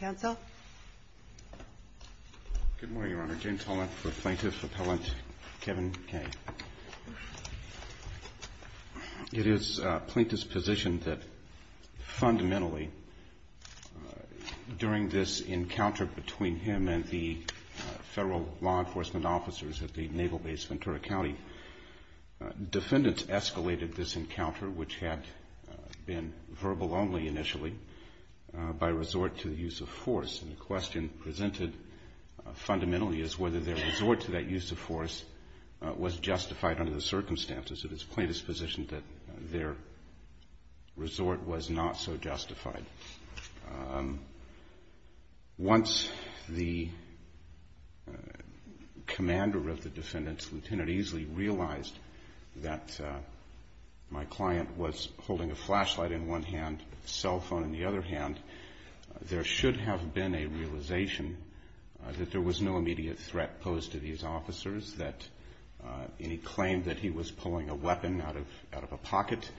Good morning, Your Honor. James Holland for Plaintiff Appellant Kevin Kaye. It is plaintiff's position that fundamentally, during this encounter between him and the federal law enforcement officers at the Naval Base Ventura County, defendants escalated this encounter, which had been verbal only initially, by resort to the use of force. And the question presented fundamentally is whether their resort to that use of force was justified under the circumstances. It is plaintiff's position that their resort was not so justified. Once the commander of the defendants, Lt. Easley, realized that my client was holding a flashlight in one hand and a cell phone in the other hand, there should have been a realization that there was no immediate threat posed to these officers. That any claim that he was pulling a weapon out of a pocket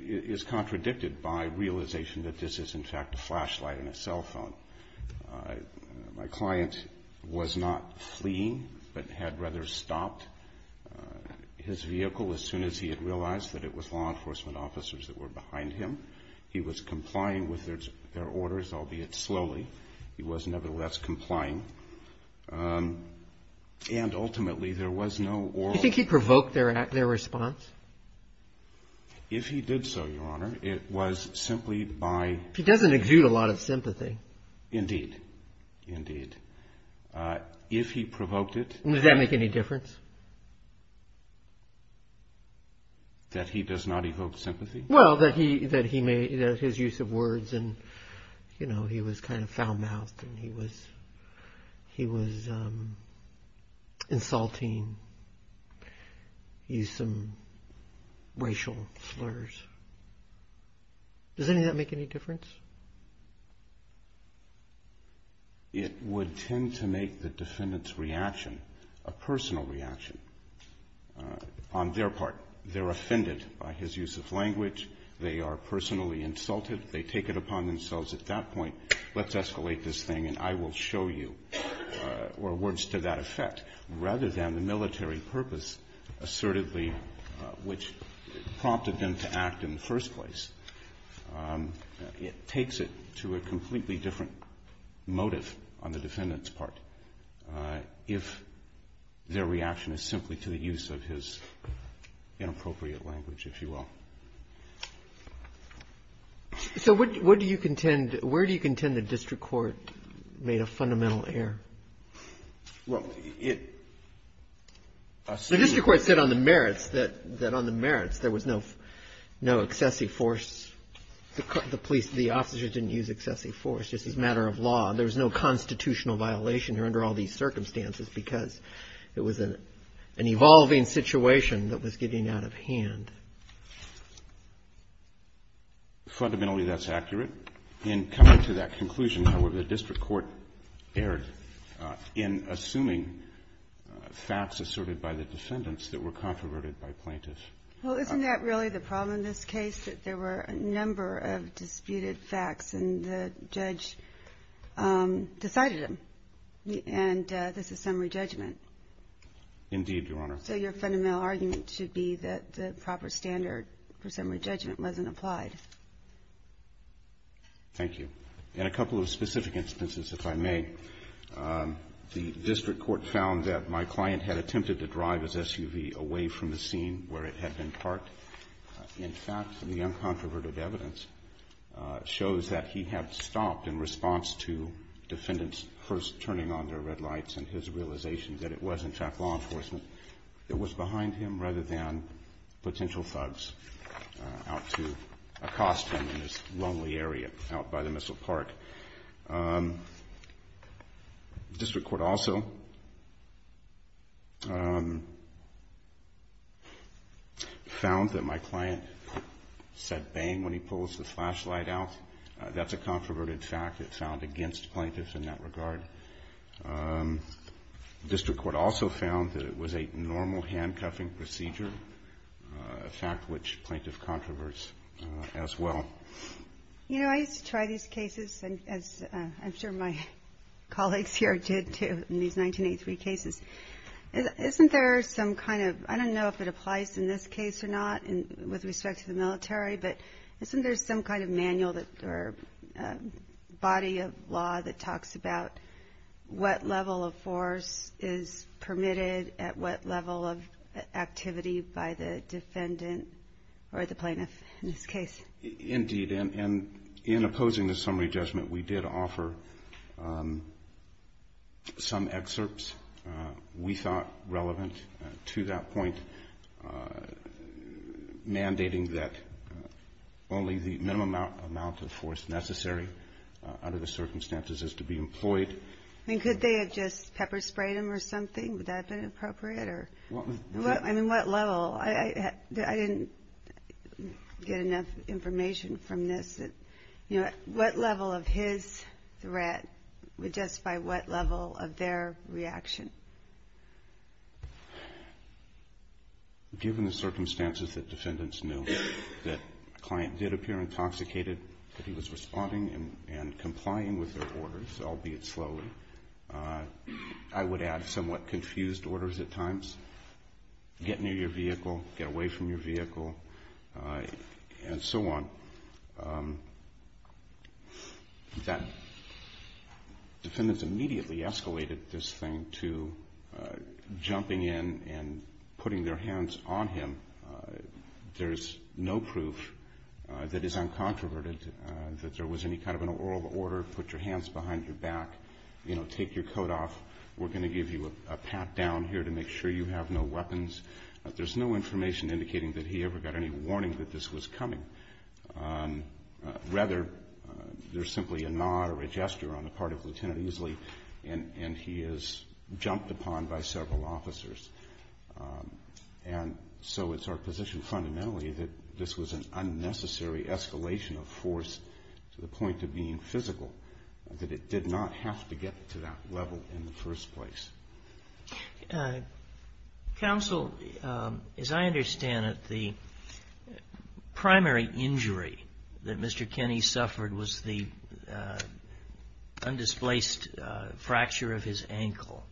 is contradicted by realization that this is in fact a flashlight and a cell phone. My client was not fleeing, but had rather stopped his vehicle as soon as he had realized that it was law enforcement officers that were behind him. He was complying with their orders, albeit slowly. He was nevertheless complying. And ultimately there was no oral... Do you think he provoked their response? If he did so, Your Honor, it was simply by... He doesn't exude a lot of sympathy. Indeed. Indeed. If he provoked it... Would that make any difference? That he does not evoke sympathy? Well, that his use of words and, you know, he was kind of foul-mouthed and he was insulting. He used some racial slurs. Does any of that make any difference? It would tend to make the defendant's reaction a personal reaction on their part. They're offended by his use of language. They are personally insulted. They take it upon themselves at that point, let's escalate this thing and I will show you, or words to that effect. Rather than the military purpose assertively which prompted them to act in the first place. It takes it to a completely different motive on the defendant's part if their reaction is simply to the use of his inappropriate language, if you will. So what do you contend, where do you contend the district court made a fundamental error? Well, it... The district court said on the merits that on the merits there was no excessive force. The police, the officers didn't use excessive force. This is a matter of law. There was no constitutional violation here under all these circumstances because it was an evolving situation that was getting out of hand. Fundamentally, that's accurate. In coming to that conclusion, however, the district court erred in assuming facts asserted by the defendants that were controverted by plaintiffs. Well, isn't that really the problem in this case, that there were a number of disputed facts and the judge decided them and this is summary judgment? Indeed, Your Honor. So your fundamental argument should be that the proper standard for summary judgment wasn't applied. Thank you. In a couple of specific instances, if I may, the district court found that my client had attempted to drive his SUV away from the scene where it had been parked. In fact, the uncontroverted evidence shows that he had stopped in response to defendants first turning on their red lights and his realization that it was in fact law enforcement that was behind him rather than potential thugs out to accost him in this lonely area out by the Missile Park. The district court also found that my client said bang when he pulls the flashlight out. That's a controverted fact that's found against plaintiffs in that regard. The district court also found that it was a normal handcuffing procedure, a fact which plaintiff controverts as well. You know, I used to try these cases, as I'm sure my colleagues here did too, in these 1983 cases. Isn't there some kind of, I don't know if it applies in this case or not with respect to the military, but isn't there some kind of manual or body of law that talks about what level of force is permitted at what level of activity by the defendant or the plaintiff in this case? Indeed. And in opposing the summary judgment, we did offer some excerpts we thought relevant to that point, mandating that only the minimum amount of force necessary under the circumstances is to be employed. And could they have just pepper sprayed him or something? Would that have been appropriate? I mean, what level? I didn't get enough information from this. What level of his threat, just by what level of their reaction? Given the circumstances that defendants knew, that a client did appear intoxicated, that he was responding and complying with their orders, albeit slowly, I would add somewhat confused orders at times. Get near your vehicle, get away from your vehicle, and so on. That defendants immediately escalated this thing to jumping in and putting their hands on him. There's no proof that is uncontroverted, that there was any kind of an oral order, put your hands behind your back, you know, take your coat off, we're going to give you a pat down here to make sure you have no weapons. There's no information indicating that he ever got any warning that this was coming. Rather, there's simply a nod or a gesture on the part of Lieutenant Easley, and he is jumped upon by several officers. And so it's our position fundamentally that this was an unnecessary escalation of force to the point of being physical, that it did not have to get to that level in the first place. Counsel, as I understand it, the primary injury that Mr. Kenny suffered was the undisplaced fracture of his ankle.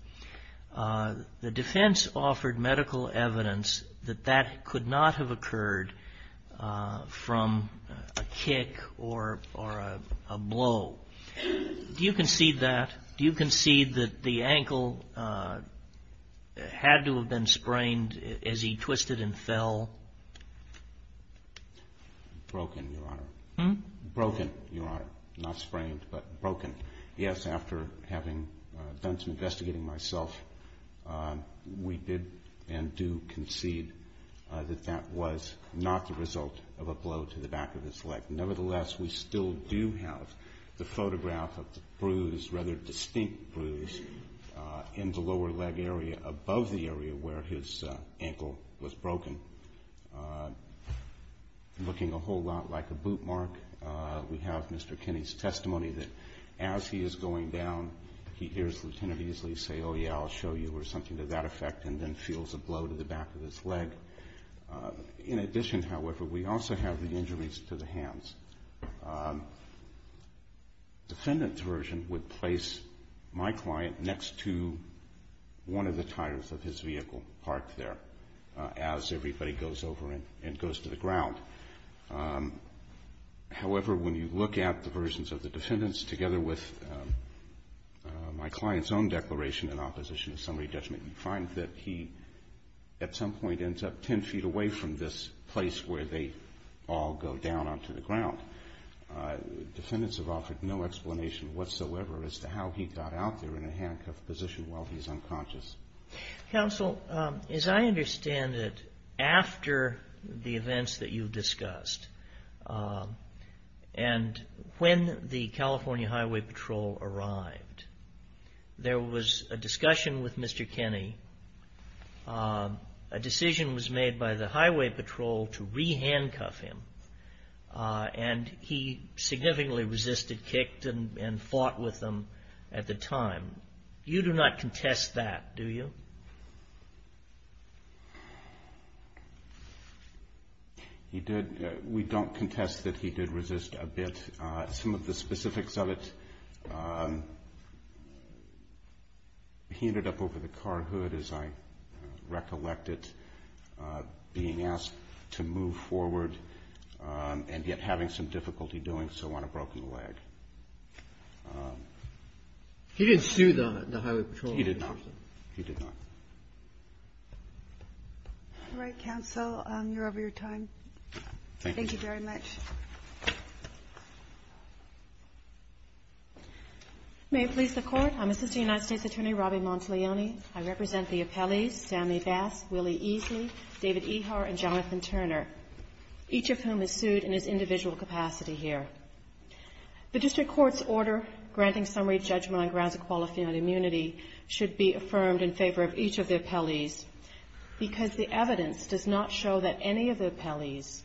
The defense offered medical evidence that that could not have occurred from a kick or a blow. Do you concede that? Do you concede that the ankle had to have been sprained as he twisted and fell? Broken, Your Honor. Broken, Your Honor. Not sprained, but broken. Yes, after having done some investigating myself, we did and do concede that that was not the result of a blow to the back of his leg. Nevertheless, we still do have the photograph of the bruise, rather distinct bruise, in the lower leg area above the area where his ankle was broken, looking a whole lot like a boot mark. We have Mr. Kenny's testimony that as he is going down, he hears Lieutenant Easley say, oh yeah, I'll show you, or something to that effect, and then feels a blow to the back of his leg. In addition, however, we also have the injuries to the hands. The defendant's version would place my client next to one of the tires of his vehicle parked there However, when you look at the versions of the defendants together with my client's own declaration in opposition to summary judgment, you find that he at some point ends up ten feet away from this place where they all go down onto the ground. Defendants have offered no explanation whatsoever as to how he got out there in a handcuffed position while he's unconscious. Counsel, as I understand it, after the events that you've discussed, and when the California Highway Patrol arrived, there was a discussion with Mr. Kenny, a decision was made by the Highway Patrol to re-handcuff him, and he significantly resisted, kicked, and fought with them at the time. You do not contest that, do you? We don't contest that he did resist a bit. Some of the specifics of it, he ended up over the car hood, as I recollect it, being asked to move forward, and yet having some difficulty doing so on a broken leg. He didn't sue the Highway Patrol. He did not. He did not. All right, Counsel, you're over your time. Thank you very much. May it please the Court, I'm Assistant United States Attorney Robby Montalioni. I represent the appellees, Stanley Bass, Willie Easley, David Ehar, and Jonathan Turner, each of whom is sued in his individual capacity here. The District Court's order granting summary judgment on grounds of qualifying on immunity should be affirmed in favor of each of the appellees, because the evidence does not show that any of the appellees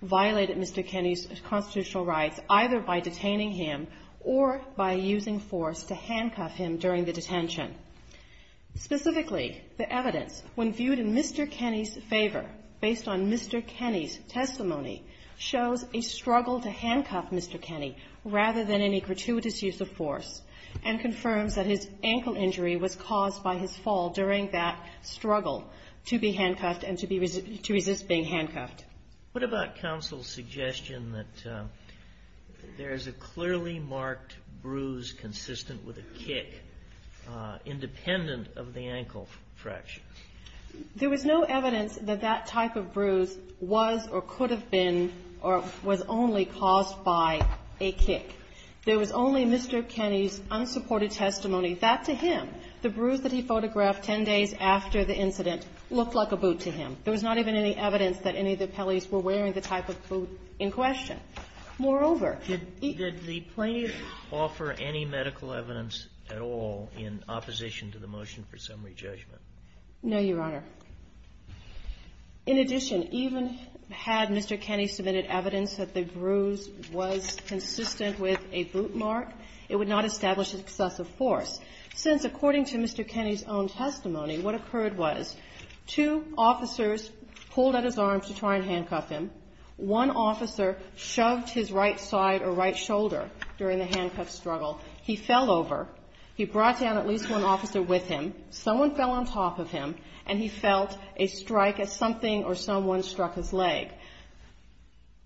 violated Mr. Kenny's constitutional rights, either by detaining him or by using force to handcuff him during the detention. Specifically, the evidence, when viewed in Mr. Kenny's favor, based on Mr. Kenny's testimony, shows a struggle to handcuff Mr. Kenny rather than any gratuitous use of force, and confirms that his ankle injury was caused by his fall during that struggle to be handcuffed and to resist being handcuffed. What about counsel's suggestion that there is a clearly marked bruise consistent with a kick, independent of the ankle fracture? There was no evidence that that type of bruise was or could have been or was only caused by a kick. There was only Mr. Kenny's unsupported testimony. That, to him, the bruise that he photographed ten days after the incident looked like a boot to him. There was not even any evidence that any of the appellees were wearing the type of boot in question. Moreover, he --- Did the plaintiffs offer any medical evidence at all in opposition to the motion for summary judgment? No, Your Honor. In addition, even had Mr. Kenny submitted evidence that the bruise was consistent with a boot mark, it would not establish excessive force, since, according to Mr. Kenny's own testimony, what occurred was two officers pulled at his arms to try and handcuff him, one officer shoved his right side or right shoulder during the handcuff struggle, he fell over, he brought down at least one officer with him, someone fell on top of him, and he felt a strike as something or someone struck his leg.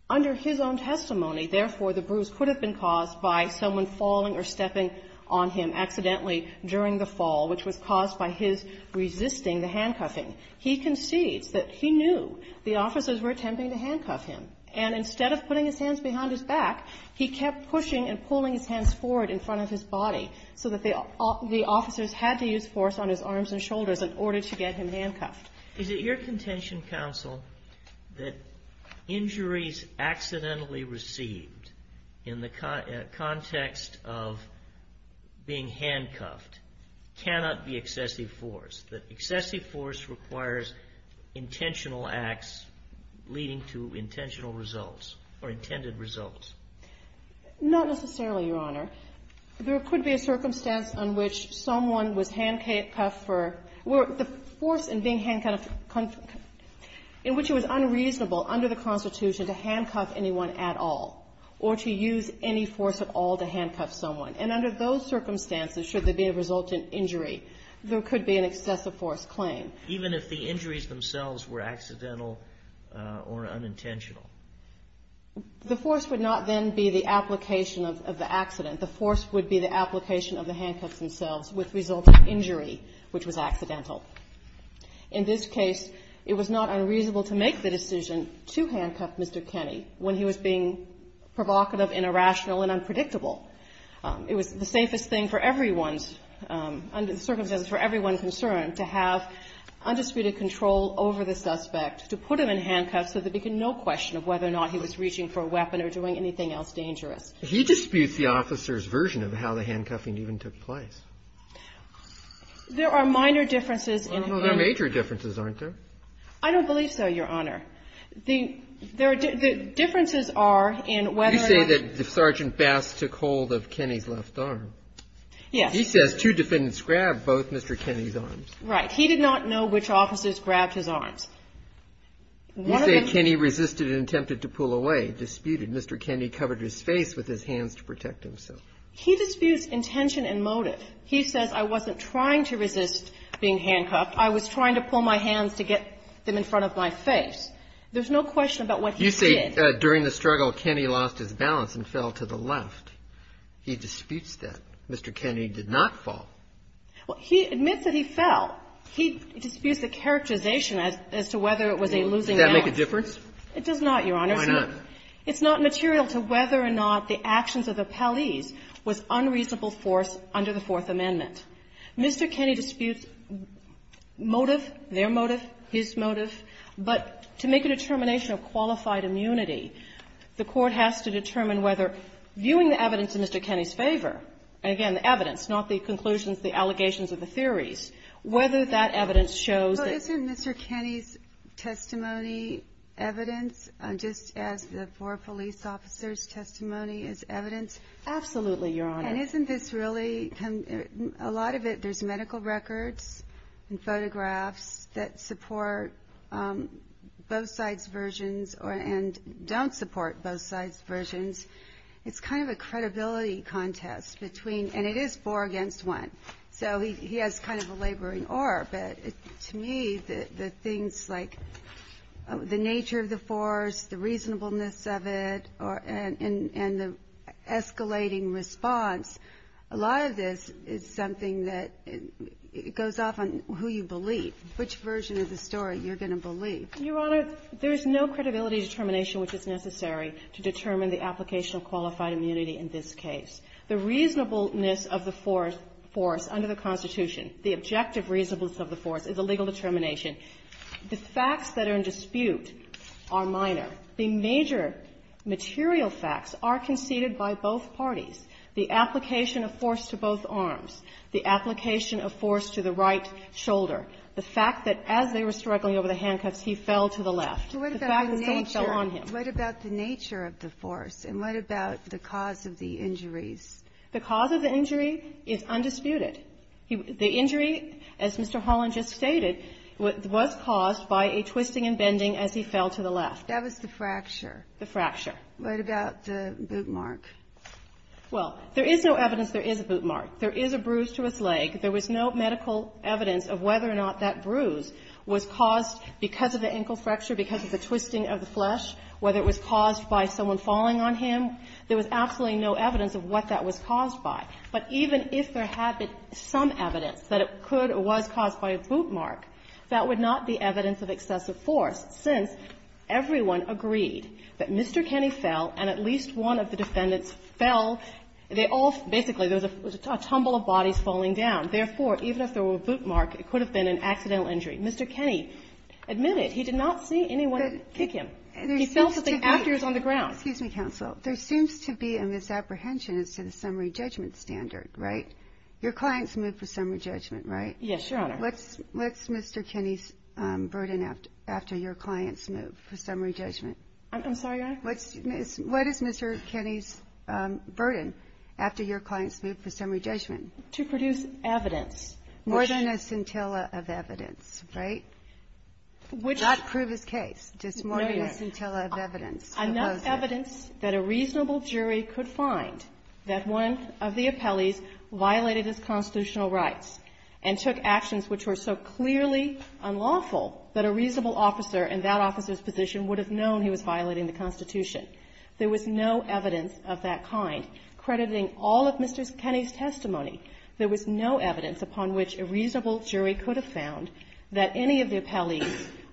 Under his own testimony, therefore, the bruise could have been caused by someone falling or stepping on him accidentally during the fall, which was caused by his resisting the handcuffing. He concedes that he knew the officers were attempting to handcuff him. And instead of putting his hands behind his back, he kept pushing and pulling his hands forward in front of his body so that the officers had to use force on his arms and shoulders in order to get him handcuffed. Is it your contention, counsel, that injuries accidentally received in the context of being handcuffed cannot be excessive force, that excessive force requires intentional acts leading to intentional results or intended results? Not necessarily, Your Honor. There could be a circumstance in which someone was handcuffed for the force in being handcuffed in which it was unreasonable under the Constitution to handcuff anyone at all or to use any force at all to handcuff someone. And under those circumstances, should there be a resultant injury, there could be an excessive force claim. Even if the injuries themselves were accidental or unintentional? The force would not then be the application of the accident. The force would be the application of the handcuffs themselves, which resulted in injury, which was accidental. In this case, it was not unreasonable to make the decision to handcuff Mr. Kenney when he was being provocative and irrational and unpredictable. It was the safest thing for everyone's, under the circumstances for everyone's concern, to have undisputed control over the suspect, to put him in handcuffs so that there could be no question of whether or not he was reaching for a weapon or doing anything else dangerous. He disputes the officer's version of how the handcuffing even took place. There are minor differences in the ---- Well, there are major differences, aren't there? I don't believe so, Your Honor. The differences are in whether or not ---- You say that Sergeant Bass took hold of Kenney's left arm. Yes. He says two defendants grabbed both Mr. Kenney's arms. Right. He did not know which officers grabbed his arms. You say Kenney resisted and attempted to pull away, disputed. Mr. Kenney covered his face with his hands to protect himself. He disputes intention and motive. He says, I wasn't trying to resist being handcuffed. I was trying to pull my hands to get them in front of my face. There's no question about what he did. You say during the struggle, Kenney lost his balance and fell to the left. He disputes that. Mr. Kenney did not fall. Well, he admits that he fell. He disputes the characterization as to whether it was a losing act. Does that make a difference? It does not, Your Honor. Why not? It's not material to whether or not the actions of the police was unreasonable force under the Fourth Amendment. Mr. Kenney disputes motive, their motive, his motive. But to make a determination of qualified immunity, the Court has to determine whether viewing the evidence in Mr. Kenney's favor, and, again, the evidence, not the conclusions, the allegations, or the theories, whether that evidence shows that. Well, isn't Mr. Kenney's testimony evidence, just as the four police officers' testimony is evidence? Absolutely, Your Honor. And isn't this really, a lot of it, there's medical records and photographs that support both sides' versions and don't support both sides' versions. It's kind of a credibility contest between, and it is four against one. So he has kind of a laboring or, but to me, the things like the nature of the force, the reasonableness of it, and the escalating response, a lot of this is something that goes off on who you believe. Which version of the story you're going to believe? Your Honor, there is no credibility determination which is necessary to determine the application of qualified immunity in this case. The reasonableness of the force under the Constitution, the objective reasonableness of the force is a legal determination. The facts that are in dispute are minor. The major material facts are conceded by both parties. The application of force to both arms. The application of force to the right shoulder. The fact that as they were struggling over the handcuffs, he fell to the left. The fact that someone fell on him. What about the nature of the force, and what about the cause of the injuries? The cause of the injury is undisputed. The injury, as Mr. Holland just stated, was caused by a twisting and bending as he fell to the left. That was the fracture. The fracture. What about the boot mark? Well, there is no evidence there is a boot mark. There is a bruise to his leg. There was no medical evidence of whether or not that bruise was caused because of the ankle fracture, because of the twisting of the flesh, whether it was caused by someone falling on him. There was absolutely no evidence of what that was caused by. But even if there had been some evidence that it could or was caused by a boot mark, that would not be evidence of excessive force, since everyone agreed that the defendants fell. They all basically, there was a tumble of bodies falling down. Therefore, even if there were a boot mark, it could have been an accidental injury. Mr. Kenney admitted he did not see anyone kick him. He fell to the ground. Excuse me, Counsel. There seems to be a misapprehension as to the summary judgment standard, right? Your clients moved for summary judgment, right? Yes, Your Honor. What's Mr. Kenney's burden after your clients moved for summary judgment? I'm sorry, Your Honor? What is Mr. Kenney's burden after your clients moved for summary judgment? To produce evidence. More than a scintilla of evidence, right? Not prove his case. Just more than a scintilla of evidence. Enough evidence that a reasonable jury could find that one of the appellees violated his constitutional rights and took actions which were so clearly unlawful that a reasonable officer in that officer's position would have known he was violating the Constitution. There was no evidence of that kind, crediting all of Mr. Kenney's testimony. There was no evidence upon which a reasonable jury could have found that any of the appellees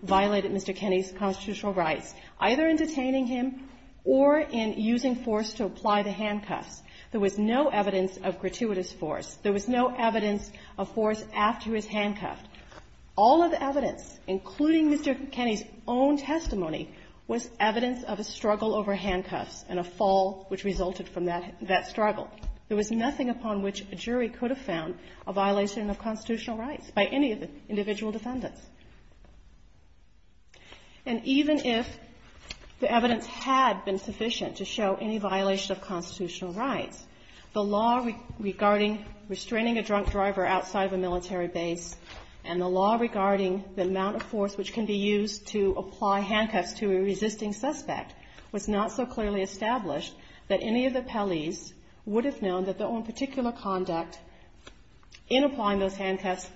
violated Mr. Kenney's constitutional rights, either in detaining him or in using force to apply the handcuffs. There was no evidence of gratuitous force. There was no evidence of force after he was handcuffed. All of the evidence, including Mr. Kenney's own testimony, was evidence of a struggle over handcuffs and a fall which resulted from that struggle. There was nothing upon which a jury could have found a violation of constitutional rights by any of the individual defendants. And even if the evidence had been sufficient to show any violation of constitutional rights, the law regarding restraining a drunk driver outside of a military base and the law regarding the amount of force which can be used to apply handcuffs to a resisting suspect was not so clearly established that any of the appellees would have known that their own particular conduct in applying those handcuffs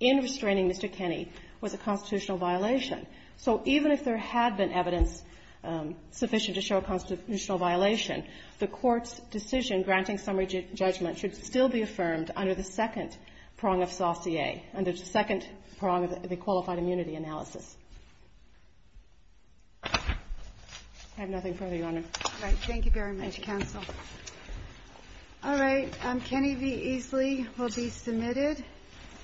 in restraining Mr. Kenney was a constitutional violation. So even if there had been evidence sufficient to show a constitutional violation, the Court's decision granting summary judgment should still be affirmed under the second prong of saucier, under the second prong of the qualified immunity analysis. I have nothing further, Your Honor. All right. Thank you very much, counsel. All right. Kenney v. Easley will be submitted.